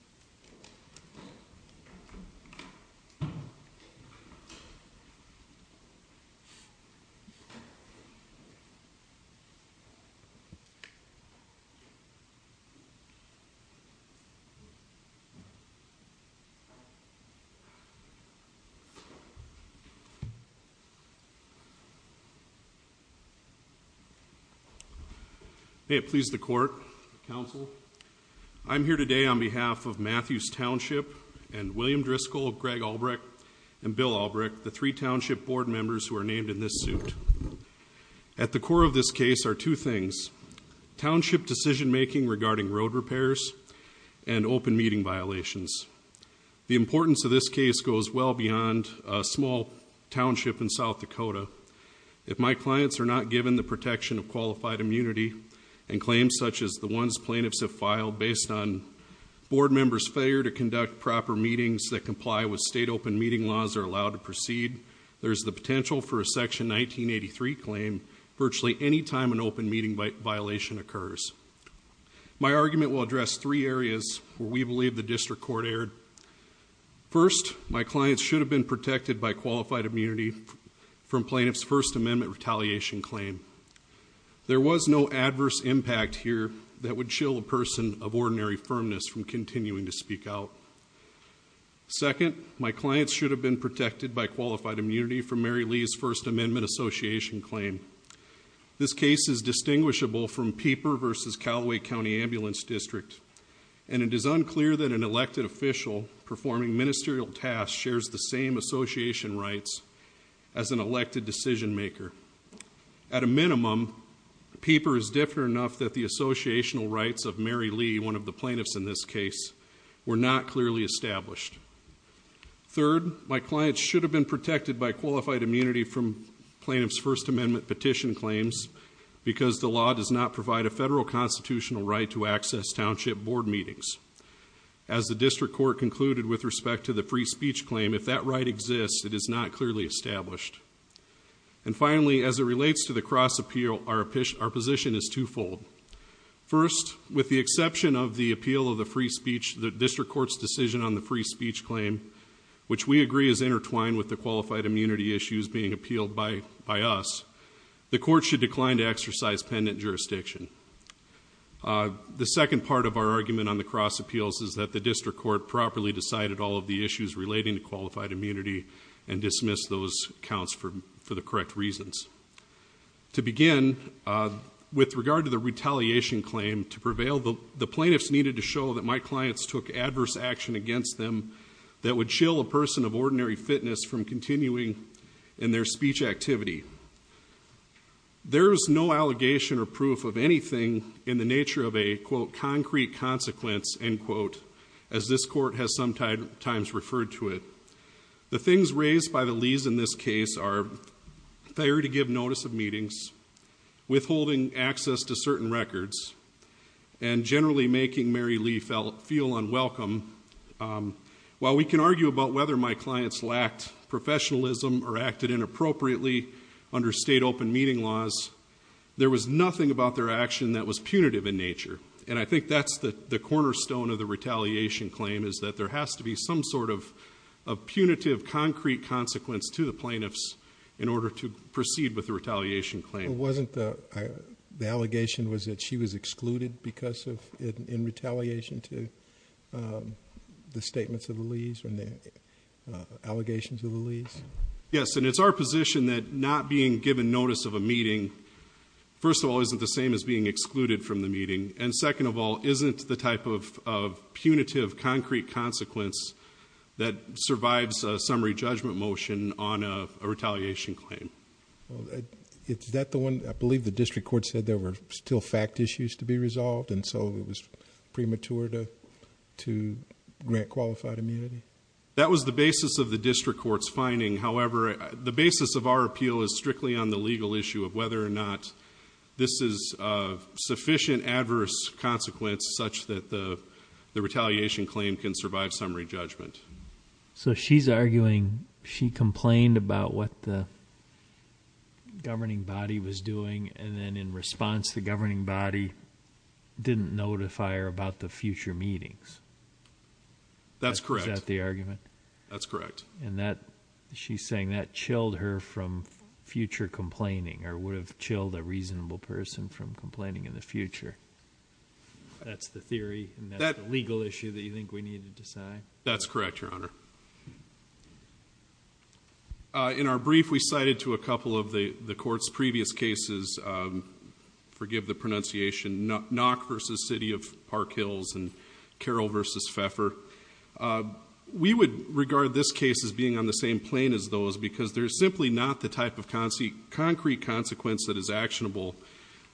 William Driscoll May it please the Court, Counsel, I'm here today on behalf of Matthews Township and William Driscoll, Greg Albrecht and Bill Albrecht, the three township board members who are named in this suit. At the core of this case are two things. Township decision-making regarding road repairs and open meeting violations. The importance of this case goes well beyond a small township in South Dakota. If my clients are not given the protection of qualified immunity and claims such as the ones plaintiffs have filed based on board members' failure to conduct proper meetings that comply with state open meeting laws are allowed to proceed, there's the potential for a section 1983 claim virtually any time an open meeting violation occurs. My argument will address three areas where we believe the district court erred. First, my clients should have been protected by qualified immunity from There was no adverse impact here that would chill a person of ordinary firmness from continuing to speak out. Second, my clients should have been protected by qualified immunity from Mary Lee's First Amendment Association claim. This case is distinguishable from Peeper v. Calloway County Ambulance District and it is unclear that an elected official performing ministerial tasks shares the same association rights as an elected decision-maker. At a minimum, Peeper is different enough that the associational rights of Mary Lee, one of the plaintiffs in this case, were not clearly established. Third, my clients should have been protected by qualified immunity from plaintiffs' First Amendment petition claims because the law does not provide a federal constitutional right to access township board meetings. As the district court concluded with respect to the free speech claim, if that right exists, it is not clearly established. And finally, as it relates to the cross appeal, our position is twofold. First, with the exception of the appeal of the free speech, the district court's decision on the free speech claim, which we agree is intertwined with the qualified immunity issues being appealed by us, the court should decline to exercise pendant jurisdiction. The second part of our argument on the cross appeals is that the district court properly decided all of the issues relating to qualified immunity and dismissed those counts for the correct reasons. To begin, with regard to the retaliation claim to prevail, the plaintiffs needed to show that my clients took adverse action against them that would chill a person of ordinary fitness from continuing in their speech activity. There's no allegation or proof of anything in the nature of a, quote, concrete consequence, end quote, as this court has sometimes referred to it. The things raised by the Lees in this case are failure to give notice of meetings, withholding access to certain records, and generally making Mary Lee feel unwelcome. While we can argue about whether my clients lacked professionalism or acted inappropriately under state open meeting laws, there was nothing about their claim is that there has to be some sort of punitive, concrete consequence to the plaintiffs in order to proceed with the retaliation claim. Wasn't the allegation that she was excluded in retaliation to the statements of the Lees and the allegations of the Lees? Yes, and it's our position that not being given notice of a meeting, first of all, isn't the same as being excluded from the meeting, and second of all, isn't the same type of punitive, concrete consequence that survives a summary judgment motion on a retaliation claim. Well, is that the one, I believe the district court said there were still fact issues to be resolved, and so it was premature to grant qualified immunity? That was the basis of the district court's finding. However, the basis of our appeal is strictly on the legal issue of whether or not this is a sufficient adverse consequence such that the retaliation claim can survive summary judgment. So she's arguing she complained about what the governing body was doing, and then in response, the governing body didn't notify her about the future meetings. That's correct. Is that the argument? That's correct. And that, she's saying that chilled her from future complaining, or would have prevented a reasonable person from complaining in the future. That's the theory, and that's the legal issue that you think we need to decide? That's correct, Your Honor. In our brief, we cited to a couple of the court's previous cases, forgive the pronunciation, Nock v. City of Park Hills, and Carroll v. Pfeffer. We would regard this case as being on the same plane as those, because there's simply not the type of concrete consequence that is actionable.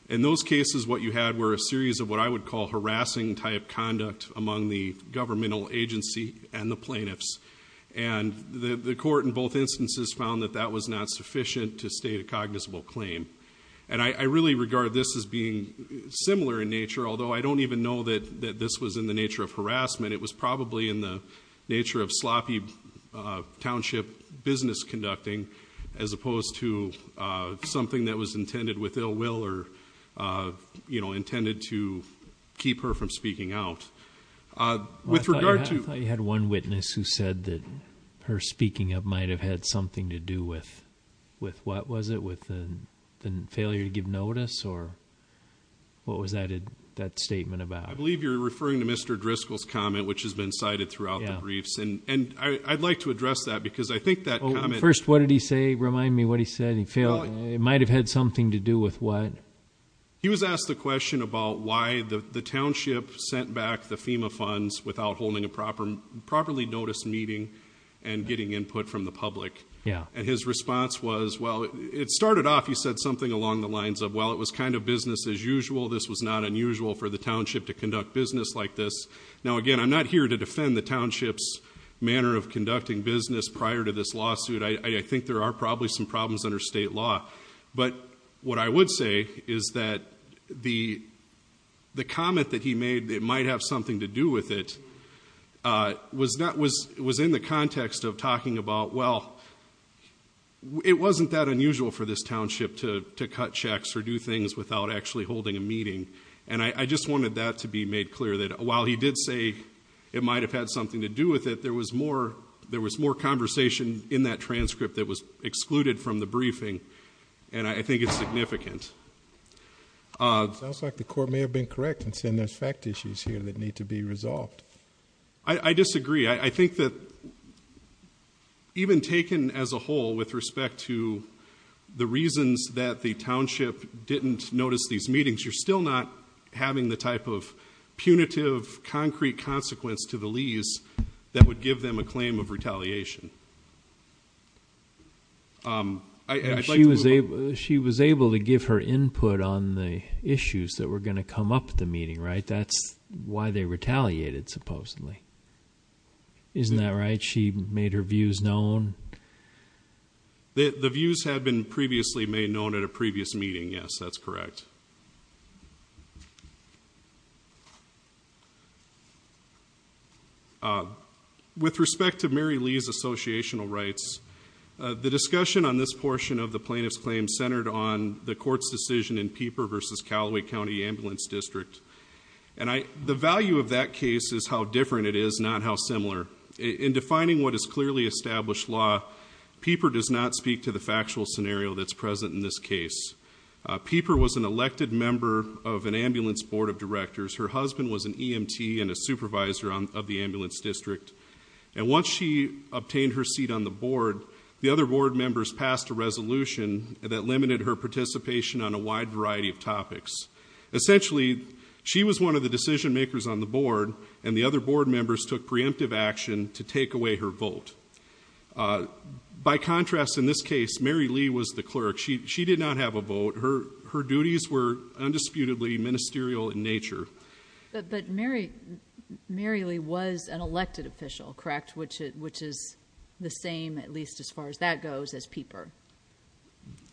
In those cases, what you had were a series of what I would call harassing-type conduct among the governmental agency and the plaintiffs. And the court in both instances found that that was not sufficient to state a cognizable claim. And I really regard this as being similar in nature, although I don't even know that this was in the nature of harassment. It was probably in the nature of harassment, as opposed to something that was intended with ill will, or intended to keep her from speaking out. With regard to... I thought you had one witness who said that her speaking up might have had something to do with, what was it, with the failure to give notice? Or what was that statement about? I believe you're referring to Mr. Driscoll's comment, which has been cited throughout the briefs. And I'd like to address that, because I think that comment... Could you remind me what he said? He might have had something to do with what? He was asked the question about why the township sent back the FEMA funds without holding a properly noticed meeting and getting input from the public. Yeah. And his response was, well, it started off, he said, something along the lines of, well, it was kind of business as usual. This was not unusual for the township to conduct business like this. Now, again, I'm not here to defend the township's manner of conducting business prior to this lawsuit. I think there are probably some problems under state law. But what I would say is that the comment that he made, that it might have something to do with it, was in the context of talking about, well, it wasn't that unusual for this township to cut checks or do things without actually holding a meeting. And I just wanted that to be made clear, that while he did say it might have had something to do with it, there was more conversation in that transcript that was excluded from the briefing. And I think it's significant. Sounds like the court may have been correct in saying there's fact issues here that need to be resolved. I disagree. I think that even taken as a whole with respect to the reasons that the township didn't notice these meetings, you're still not having the type of evidence that would give them a claim of retaliation. She was able to give her input on the issues that were going to come up at the meeting, right? That's why they retaliated, supposedly. Isn't that right? She made her views known? The views had been previously made known at a previous meeting, yes. That's With respect to Mary Lee's associational rights, the discussion on this portion of the plaintiff's claim centered on the court's decision in Peeper versus Calloway County Ambulance District. And the value of that case is how different it is, not how similar. In defining what is clearly established law, Peeper does not speak to the factual scenario that's present in this case. Peeper was an elected member of an ambulance board of directors. Her husband was an EMT and a member of the ambulance district. And once she obtained her seat on the board, the other board members passed a resolution that limited her participation on a wide variety of topics. Essentially, she was one of the decision makers on the board, and the other board members took preemptive action to take away her vote. By contrast, in this case, Mary Lee was the clerk. She did not have a vote. Her duties were undisputedly ministerial in nature. But Mary Lee was an elected official, correct? Which is the same, at least as far as that goes, as Peeper.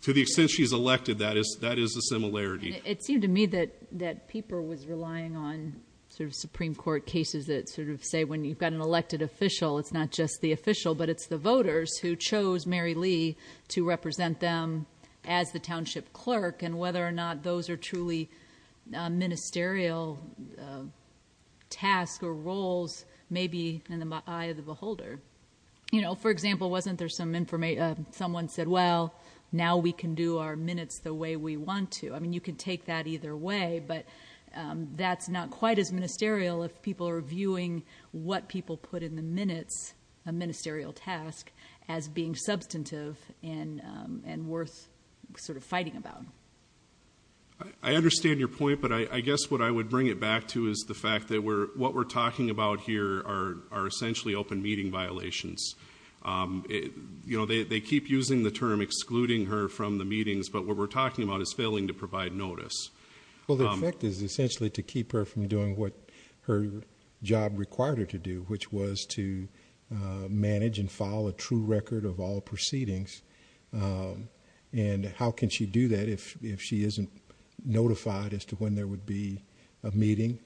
To the extent she's elected, that is a similarity. It seemed to me that Peeper was relying on sort of Supreme Court cases that sort of say, when you've got an elected official, it's not just the official, but it's the voters who chose Mary Lee to represent them as the township clerk and whether or not those are truly ministerial tasks or roles may be in the eye of the beholder. You know, for example, wasn't there some information, someone said, well, now we can do our minutes the way we want to. I mean, you could take that either way, but that's not quite as ministerial if people are viewing what people put in the minutes, a ministerial task, as being substantive and worth sort of fighting about. I understand your point, but I guess what I would bring it back to is the fact that what we're talking about here are essentially open meeting violations. You know, they keep using the term excluding her from the meetings, but what we're talking about is failing to provide notice. Well, the effect is essentially to keep her from doing what her job required her to do, which was to manage and follow a true record of all proceedings. And how can she do that if she isn't notified as to when there would be a meeting?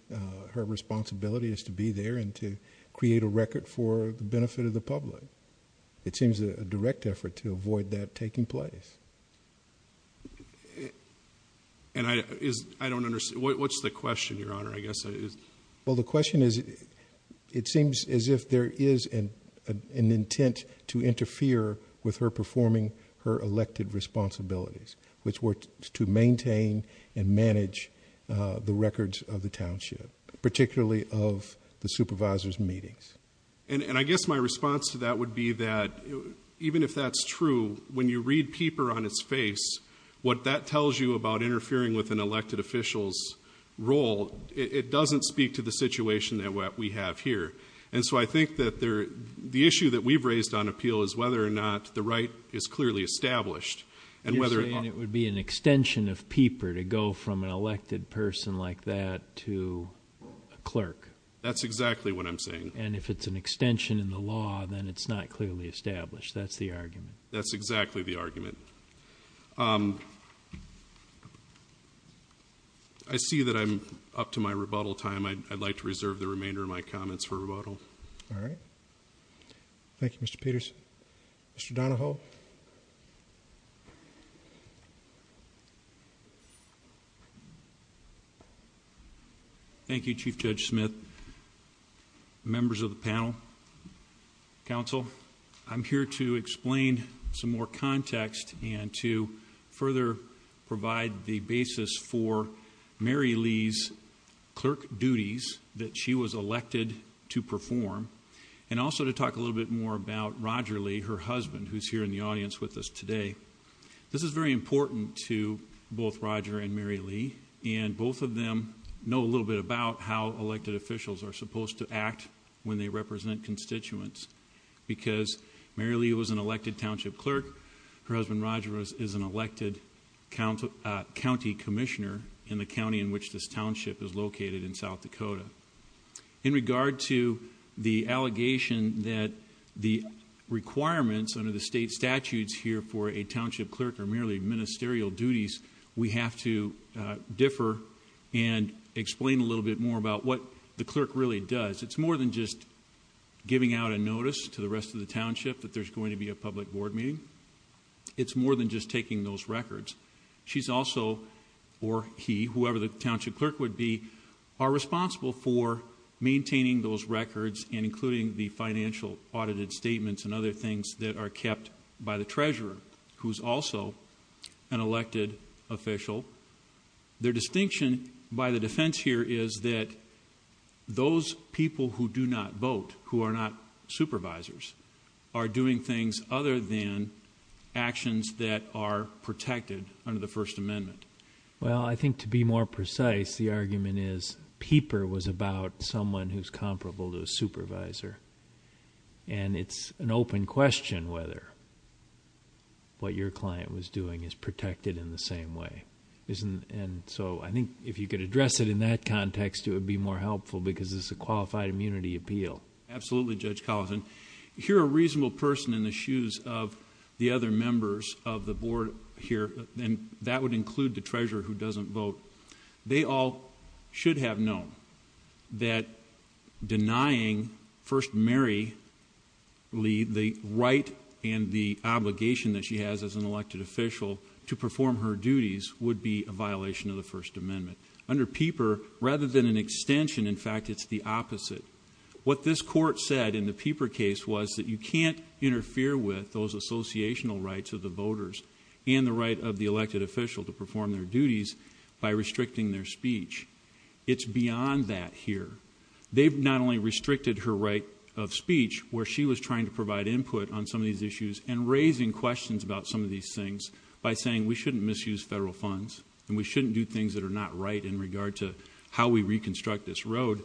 Her responsibility is to be there and to create a record for the benefit of the public. It seems a direct effort to avoid that taking place. And I don't understand. What's the question, Your Honor? I guess it is. Well, the question is, it seems as if there is an intent to interfere with her performing her elected responsibilities, which were to maintain and manage the records of the township, particularly of the supervisor's meetings. And I guess my response to that would be that even if that's true, when you read peeper on its face, what that tells you about interfering with an elected official's role, it doesn't speak to the situation that we have here. And so I think that the issue that we've raised on appeal is whether or not the right is clearly established. You're saying it would be an extension of peeper to go from an elected person like that to a clerk. That's exactly what I'm saying. And if it's an extension in the law, then it's not clearly established. That's the argument. That's exactly the argument. I see that I'm up to my rebuttal time. I'd like to reserve the remainder of my comments for rebuttal. All right. Thank you, Mr. Peters. Mr. Donahoe. Thank you, Chief Judge Smith, members of the panel, counsel. I'm here to explain some more context and to further provide the basis for Mary Lee's clerk duties that she was elected to perform and also to talk a little bit more about Roger Lee, her husband, who's here in the audience with us today. This is very important to both Roger and Mary Lee, and both of them know a little bit about how elected officials are supposed to act when they represent constituents, because Mary Lee was an elected township clerk. Her husband, Roger, is an elected county commissioner in the county in which this township is located in South Dakota. In regard to the allegation that the requirements under the state statutes here for a township clerk are merely ministerial duties, we have to differ and explain a little bit more about what the clerk really does. It's more than just giving out a notice to the rest of the township that there's going to be a public board meeting. It's more than just taking those records. She's also, or he, whoever the township clerk would be, are responsible for maintaining those records and including the financial audited statements and other things that are kept by the treasurer, who's also an elected official. Their distinction by the defense here is that those people who do not vote, who are not supervisors, are doing things other than actions that are protected under the First Amendment. Well, I think to be more precise, the argument is Peeper was about someone who's comparable to a supervisor, and it's an open question whether what your client was doing is protected in the same way. I think if you could address it in that context, it would be more helpful because it's a qualified immunity appeal. Absolutely, Judge Collison. Here, a reasonable person in the shoes of the other members of the board here, and that would include the treasurer who doesn't vote, they all should have known that denying First Mary Lee the right and the obligation that she has as an attorney would be a violation of the First Amendment. Under Peeper, rather than an extension, in fact, it's the opposite. What this court said in the Peeper case was that you can't interfere with those associational rights of the voters and the right of the elected official to perform their duties by restricting their speech. It's beyond that here. They've not only restricted her right of speech, where she was trying to provide input on some of these issues and raising questions about some of these things by saying we shouldn't misuse federal funds. And we shouldn't do things that are not right in regard to how we reconstruct this road.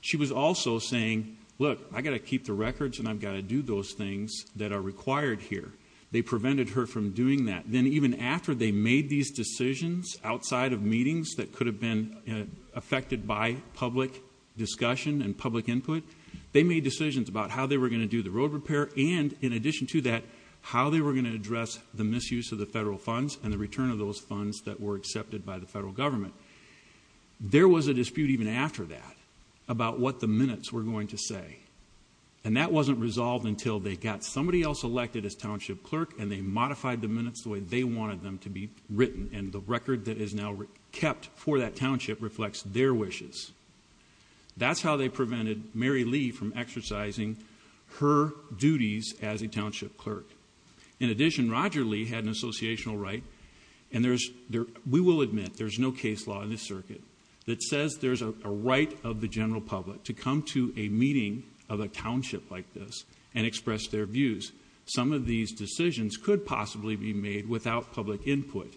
She was also saying, look, I got to keep the records and I've got to do those things that are required here. They prevented her from doing that. Then even after they made these decisions outside of meetings that could have been affected by public discussion and public input, they made decisions about how they were going to do the road repair. And in addition to that, how they were going to address the misuse of the federal funds and the return of those funds that were accepted by the federal government. There was a dispute even after that about what the minutes were going to say. And that wasn't resolved until they got somebody else elected as township clerk and they modified the minutes the way they wanted them to be written. And the record that is now kept for that township reflects their wishes. That's how they prevented Mary Lee from exercising her duties as a township clerk. In addition, Roger Lee had an associational right and we will admit there's no case law in this circuit that says there's a right of the general public to come to a meeting of a township like this and express their views. Some of these decisions could possibly be made without public input.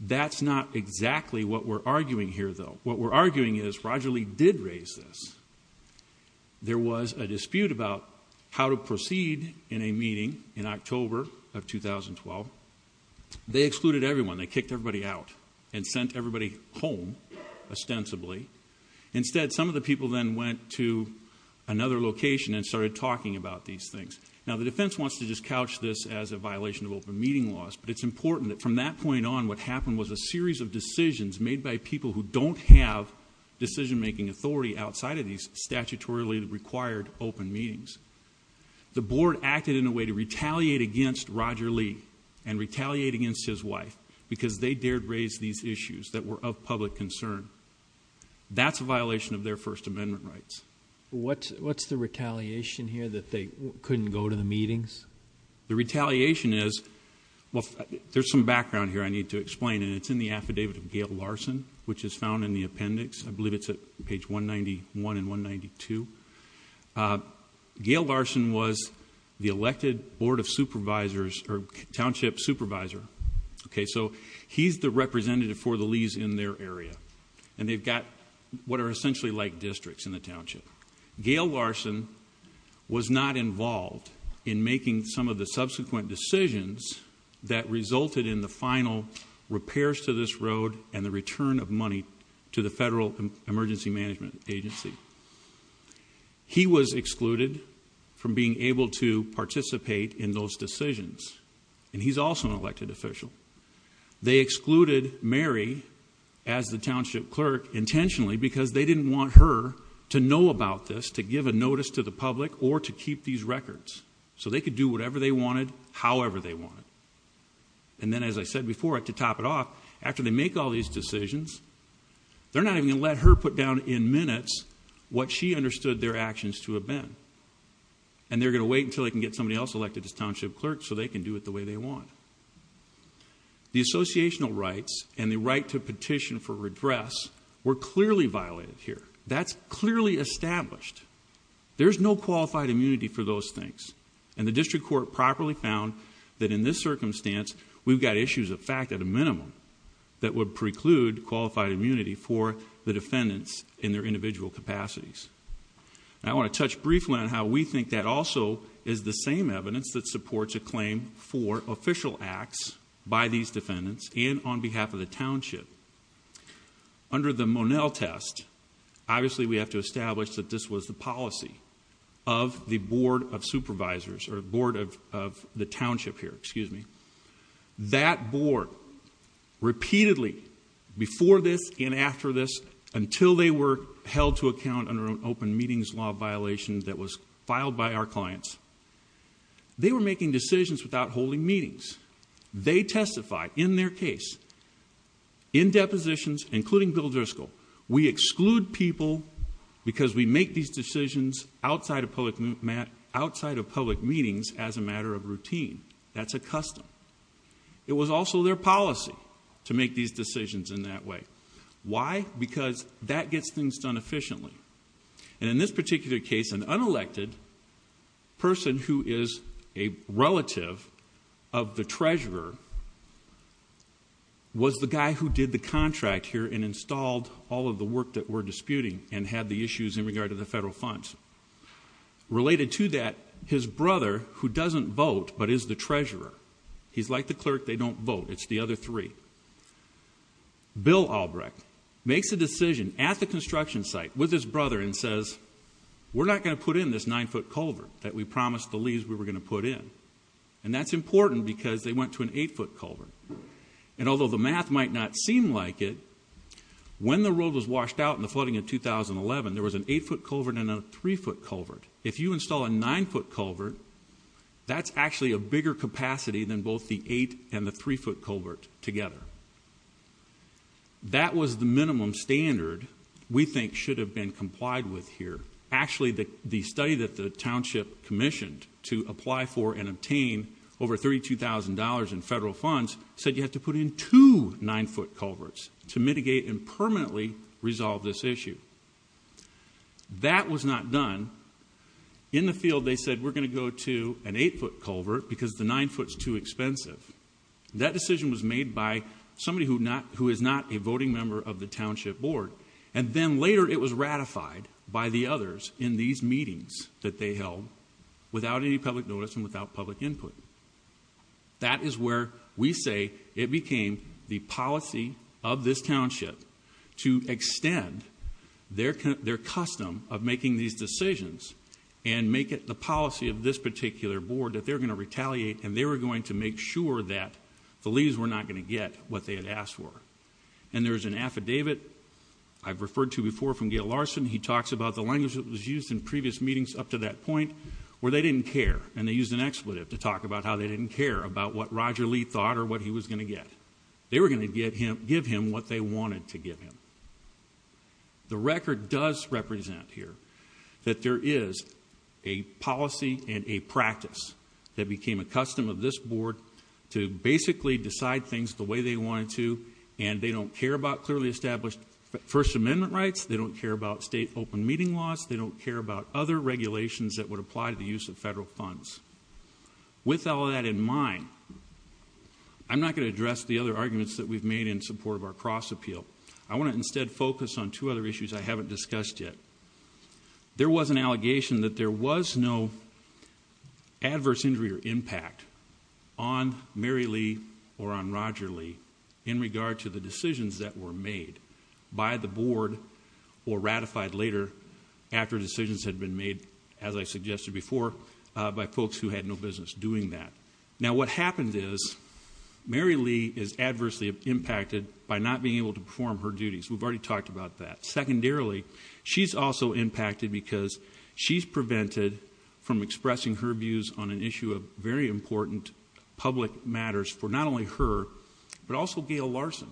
That's not exactly what we're arguing here though. What we're arguing is Roger Lee did raise this. There was a dispute about how to proceed in a meeting in October of 2012. They excluded everyone. They kicked everybody out and sent everybody home ostensibly. Instead, some of the people then went to another location and started talking about these things. Now the defense wants to just couch this as a violation of open meeting laws, but it's important that from that point on what happened was a series of decisions made by people who don't have decision-making authority outside of these statutorily required open meetings. The board acted in a way to retaliate against Roger Lee and retaliate against his wife because they dared raise these issues that were of public concern. That's a violation of their first amendment rights. What's, what's the retaliation here that they couldn't go to the meetings? The retaliation is, well, there's some background here I need to explain and it's in the affidavit of Gail Larson, which is found in the appendix. I believe it's at page 191 and 192. Gail Larson was the elected board of supervisors or township supervisor. Okay. So he's the representative for the Lees in their area and they've got what are essentially like districts in the township. Gail Larson was not involved in making some of the subsequent decisions that led to this road and the return of money to the federal emergency management agency. He was excluded from being able to participate in those decisions. And he's also an elected official. They excluded Mary as the township clerk intentionally because they didn't want her to know about this, to give a notice to the public or to keep these records. So they could do whatever they wanted, however they wanted. And then, as I said before, to top it off, after they make all these decisions, they're not even going to let her put down in minutes what she understood their actions to have been. And they're going to wait until they can get somebody else elected as township clerk so they can do it the way they want. The associational rights and the right to petition for redress were clearly violated here. That's clearly established. There's no qualified immunity for those things. And the district court properly found that in this circumstance, we've got issues of fact at a minimum that would preclude qualified immunity for the defendants in their individual capacities. I want to touch briefly on how we think that also is the same evidence that supports a claim for official acts by these defendants and on behalf of the township. Under the Monell test, obviously we have to establish that this was the policy of the board of supervisors or board of the township here, excuse me. That board, repeatedly before this and after this, until they were held to account under an open meetings law violation that was filed by our clients, they were making decisions without holding meetings. They testified in their case, in depositions, including Bill Driscoll, we outside of public meetings as a matter of routine. That's a custom. It was also their policy to make these decisions in that way. Why? Because that gets things done efficiently. And in this particular case, an unelected person who is a relative of the treasurer was the guy who did the contract here and installed all of the work that we're disputing and had the issues in regard to the federal funds. Related to that, his brother who doesn't vote, but is the treasurer, he's like the clerk, they don't vote. It's the other three. Bill Albrecht makes a decision at the construction site with his brother and says, we're not going to put in this nine foot culvert that we promised the leaves we were going to put in. And that's important because they went to an eight foot culvert. And although the math might not seem like it, when the road was washed out in flooding in 2011, there was an eight foot culvert and a three foot culvert. If you install a nine foot culvert, that's actually a bigger capacity than both the eight and the three foot culvert together. That was the minimum standard we think should have been complied with here. Actually, the study that the township commissioned to apply for and obtain over $32,000 in federal funds said you have to put in two nine foot culverts to solve this issue. That was not done in the field. They said, we're going to go to an eight foot culvert because the nine foot is too expensive. That decision was made by somebody who not, who is not a voting member of the township board. And then later it was ratified by the others in these meetings that they held without any public notice and without public input. That is where we say it became the policy of this township to extend the their, their custom of making these decisions and make it the policy of this particular board that they're going to retaliate and they were going to make sure that the leaves were not going to get what they had asked for. And there's an affidavit I've referred to before from Gail Larson. He talks about the language that was used in previous meetings up to that point where they didn't care and they used an expletive to talk about how they didn't care about what Roger Lee thought or what he was going to get. They were going to get him, give him what they wanted to give him. The record does represent here that there is a policy and a practice that became a custom of this board to basically decide things the way they wanted to. And they don't care about clearly established first amendment rights. They don't care about state open meeting laws. They don't care about other regulations that would apply to the use of federal funds. With all of that in mind, I'm not going to address the other arguments that we've made in support of our cross appeal. I want to instead focus on two other issues I haven't discussed yet. There was an allegation that there was no adverse injury or impact on Mary Lee or on Roger Lee in regard to the decisions that were made by the board or ratified later after decisions had been made, as I suggested before, by folks who had no business doing that. Now what happened is Mary Lee is adversely impacted by not being able to perform her duties. We've already talked about that. Secondarily, she's also impacted because she's prevented from expressing her views on an issue of very important public matters for not only her, but also Gail Larson,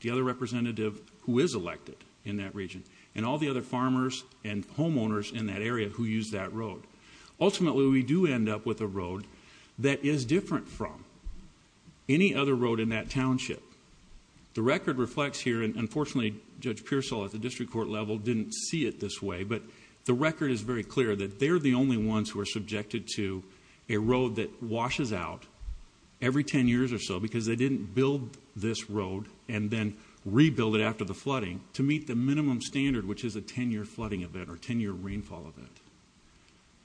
the other representative who is elected in that region and all the other farmers and homeowners in that area who use that road. Ultimately we do end up with a road that is different from any other road in that township. The record reflects here, and unfortunately Judge Pearsall at the district court level didn't see it this way, but the record is very clear that they're the only ones who are subjected to a road that washes out every 10 years or so because they didn't build this road and then rebuild it after the flooding to meet the minimum standard, which is a 10 year flooding event or 10 year rainfall event.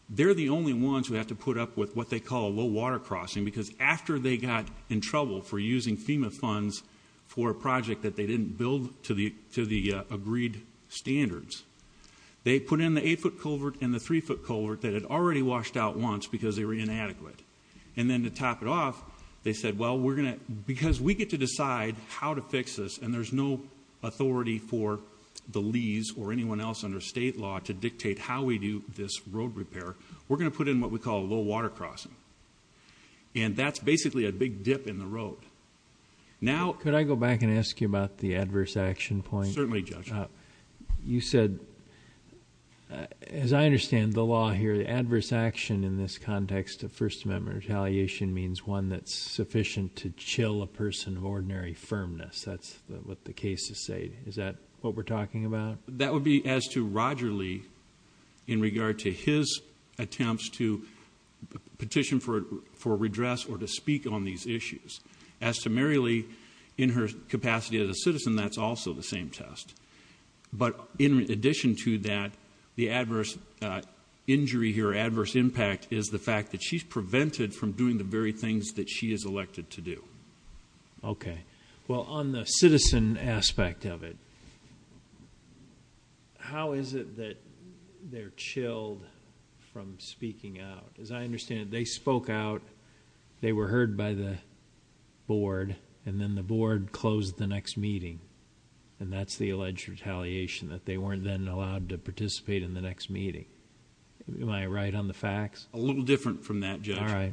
They're the only ones who have to put up with what they call a low water crossing because after they got in trouble for using FEMA funds for a project that they didn't build to the, to the agreed standards, they put in the eight foot culvert and the three foot culvert that had already washed out once because they were inadequate. And then to top it off, they said, well, we're going to, because we get to decide how to fix this and there's no authority for the lease or anyone else under state law to dictate how we do this road repair. We're going to put in what we call a low water crossing. And that's basically a big dip in the road. Now, could I go back and ask you about the adverse action point? You said, as I understand the law here, the adverse action in this context of first amendment retaliation means one that's sufficient to chill a person of ordinary firmness. That's what the cases say. Is that what we're talking about? That would be as to Roger Lee in regard to his attempts to petition for, for redress or to speak on these issues as to Mary Lee in her capacity as a citizen. That's also the same test. But in addition to that, the adverse injury here, adverse impact is the fact that she's prevented from doing the very things that she is elected to do. Okay. Well on the citizen aspect of it, how is it that they're chilled from speaking out? As I understand it, they spoke out, they were heard by the board and then the board closed the next meeting and that's the alleged retaliation that they weren't then allowed to participate in the next meeting. Am I right on the facts? A little different from that judge.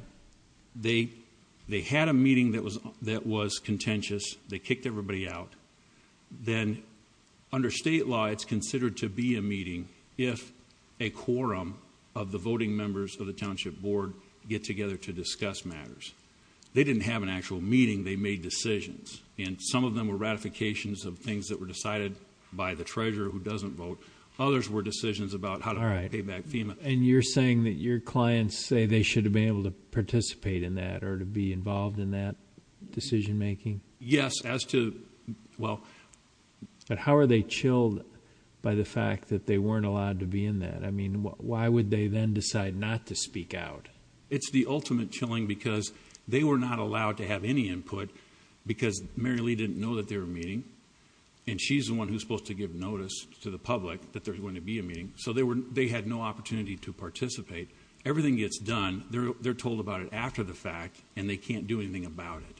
They, they had a meeting that was, that was contentious. They kicked everybody out. Then under state law, it's considered to be a meeting if a quorum of the voting members of the town board get together to discuss matters. They didn't have an actual meeting. They made decisions and some of them were ratifications of things that were decided by the treasurer who doesn't vote. Others were decisions about how to pay back FEMA. And you're saying that your clients say they should have been able to participate in that or to be involved in that decision making. Yes. As to well, but how are they chilled by the fact that they weren't allowed to be in that? I mean, why would they then decide not to speak out? It's the ultimate chilling because they were not allowed to have any input because Mary Lee didn't know that they were meeting and she's the one who's supposed to give notice to the public that there's going to be a meeting. So they were, they had no opportunity to participate. Everything gets done. They're, they're told about it after the fact and they can't do anything about it.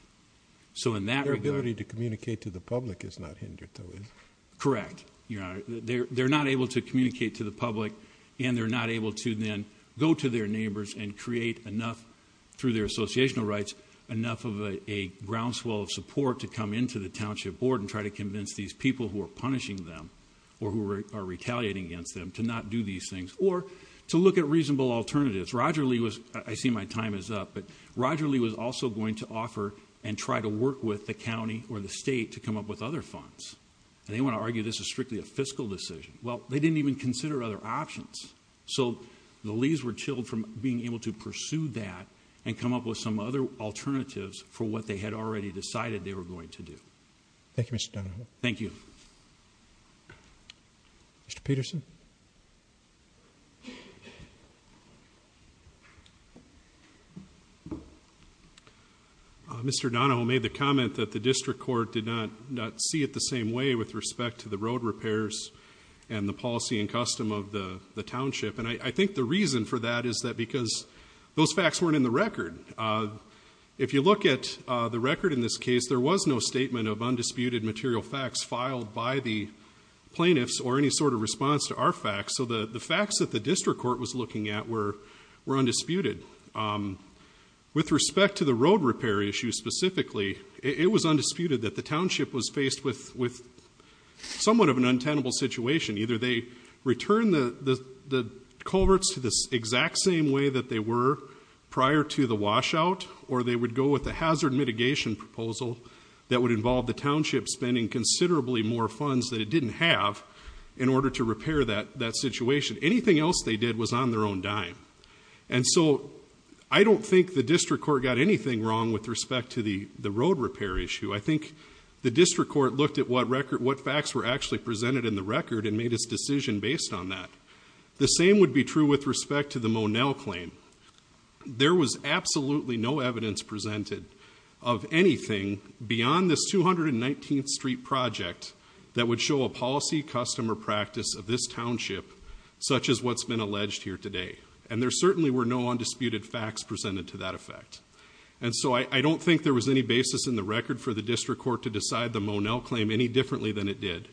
So in that regard, ability to communicate to the public is not hindered though, is correct. You're not, they're, they're not able to communicate to the public and they're not able to then go to their neighbors and create enough through their associational rights, enough of a groundswell of support to come into the township board and try to convince these people who are punishing them or who are retaliating against them to not do these things or to look at reasonable alternatives. Roger Lee was, I see my time is up, but Roger Lee was also going to offer and try to work with the County or the state to come up with other funds. And they want to argue this is strictly a fiscal decision. Well, they didn't even consider other options. So the leaves were chilled from being able to pursue that and come up with some other alternatives for what they had already decided they were going to do. Thank you, Mr. Donoho. Thank you. Mr. Peterson. Mr Donoho made the comment that the district court did not not see it the same way with respect to the road repairs and the policy and custom of the township. And I think the reason for that is that because those facts weren't in the record. Uh, if you look at, uh, the record in this case, there was no statement of undisputed material facts filed by the plaintiffs or any sort of response to our facts. So the facts that the district court was looking at were, were undisputed. Um, with respect to the road repair issue specifically, it was undisputed that the township was faced with, with somewhat of an untenable situation. Either they return the, the, the culverts to this exact same way that they were prior to the washout, or they would go with the hazard mitigation proposal that would involve the township spending considerably more funds that it didn't have in order to repair that, that situation. Anything else they did was on their own dime. And so I don't think the district court got anything wrong with respect to the, the road repair issue. I think the district court looked at what record, what facts were actually presented in the record and made his decision based on that. The same would be true with respect to the Monell claim. There was absolutely no evidence presented of anything beyond this 219th street project that would show a policy customer practice of this township such as what's been alleged here today. And there certainly were no undisputed facts presented to that effect. And so I don't think there was any basis in the record for the district court to decide the Monell claim any differently than it did.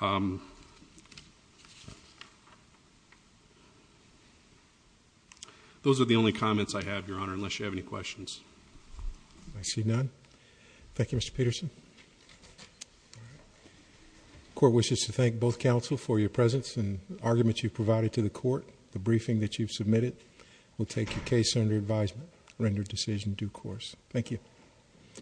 Um, those are the only comments I have your honor, unless you have any questions. I see none. Thank you, Mr. Peterson. Court wishes to thank both counsel for your presence and arguments you've presented. We'll take your case under advisement, render decision due course. Thank you.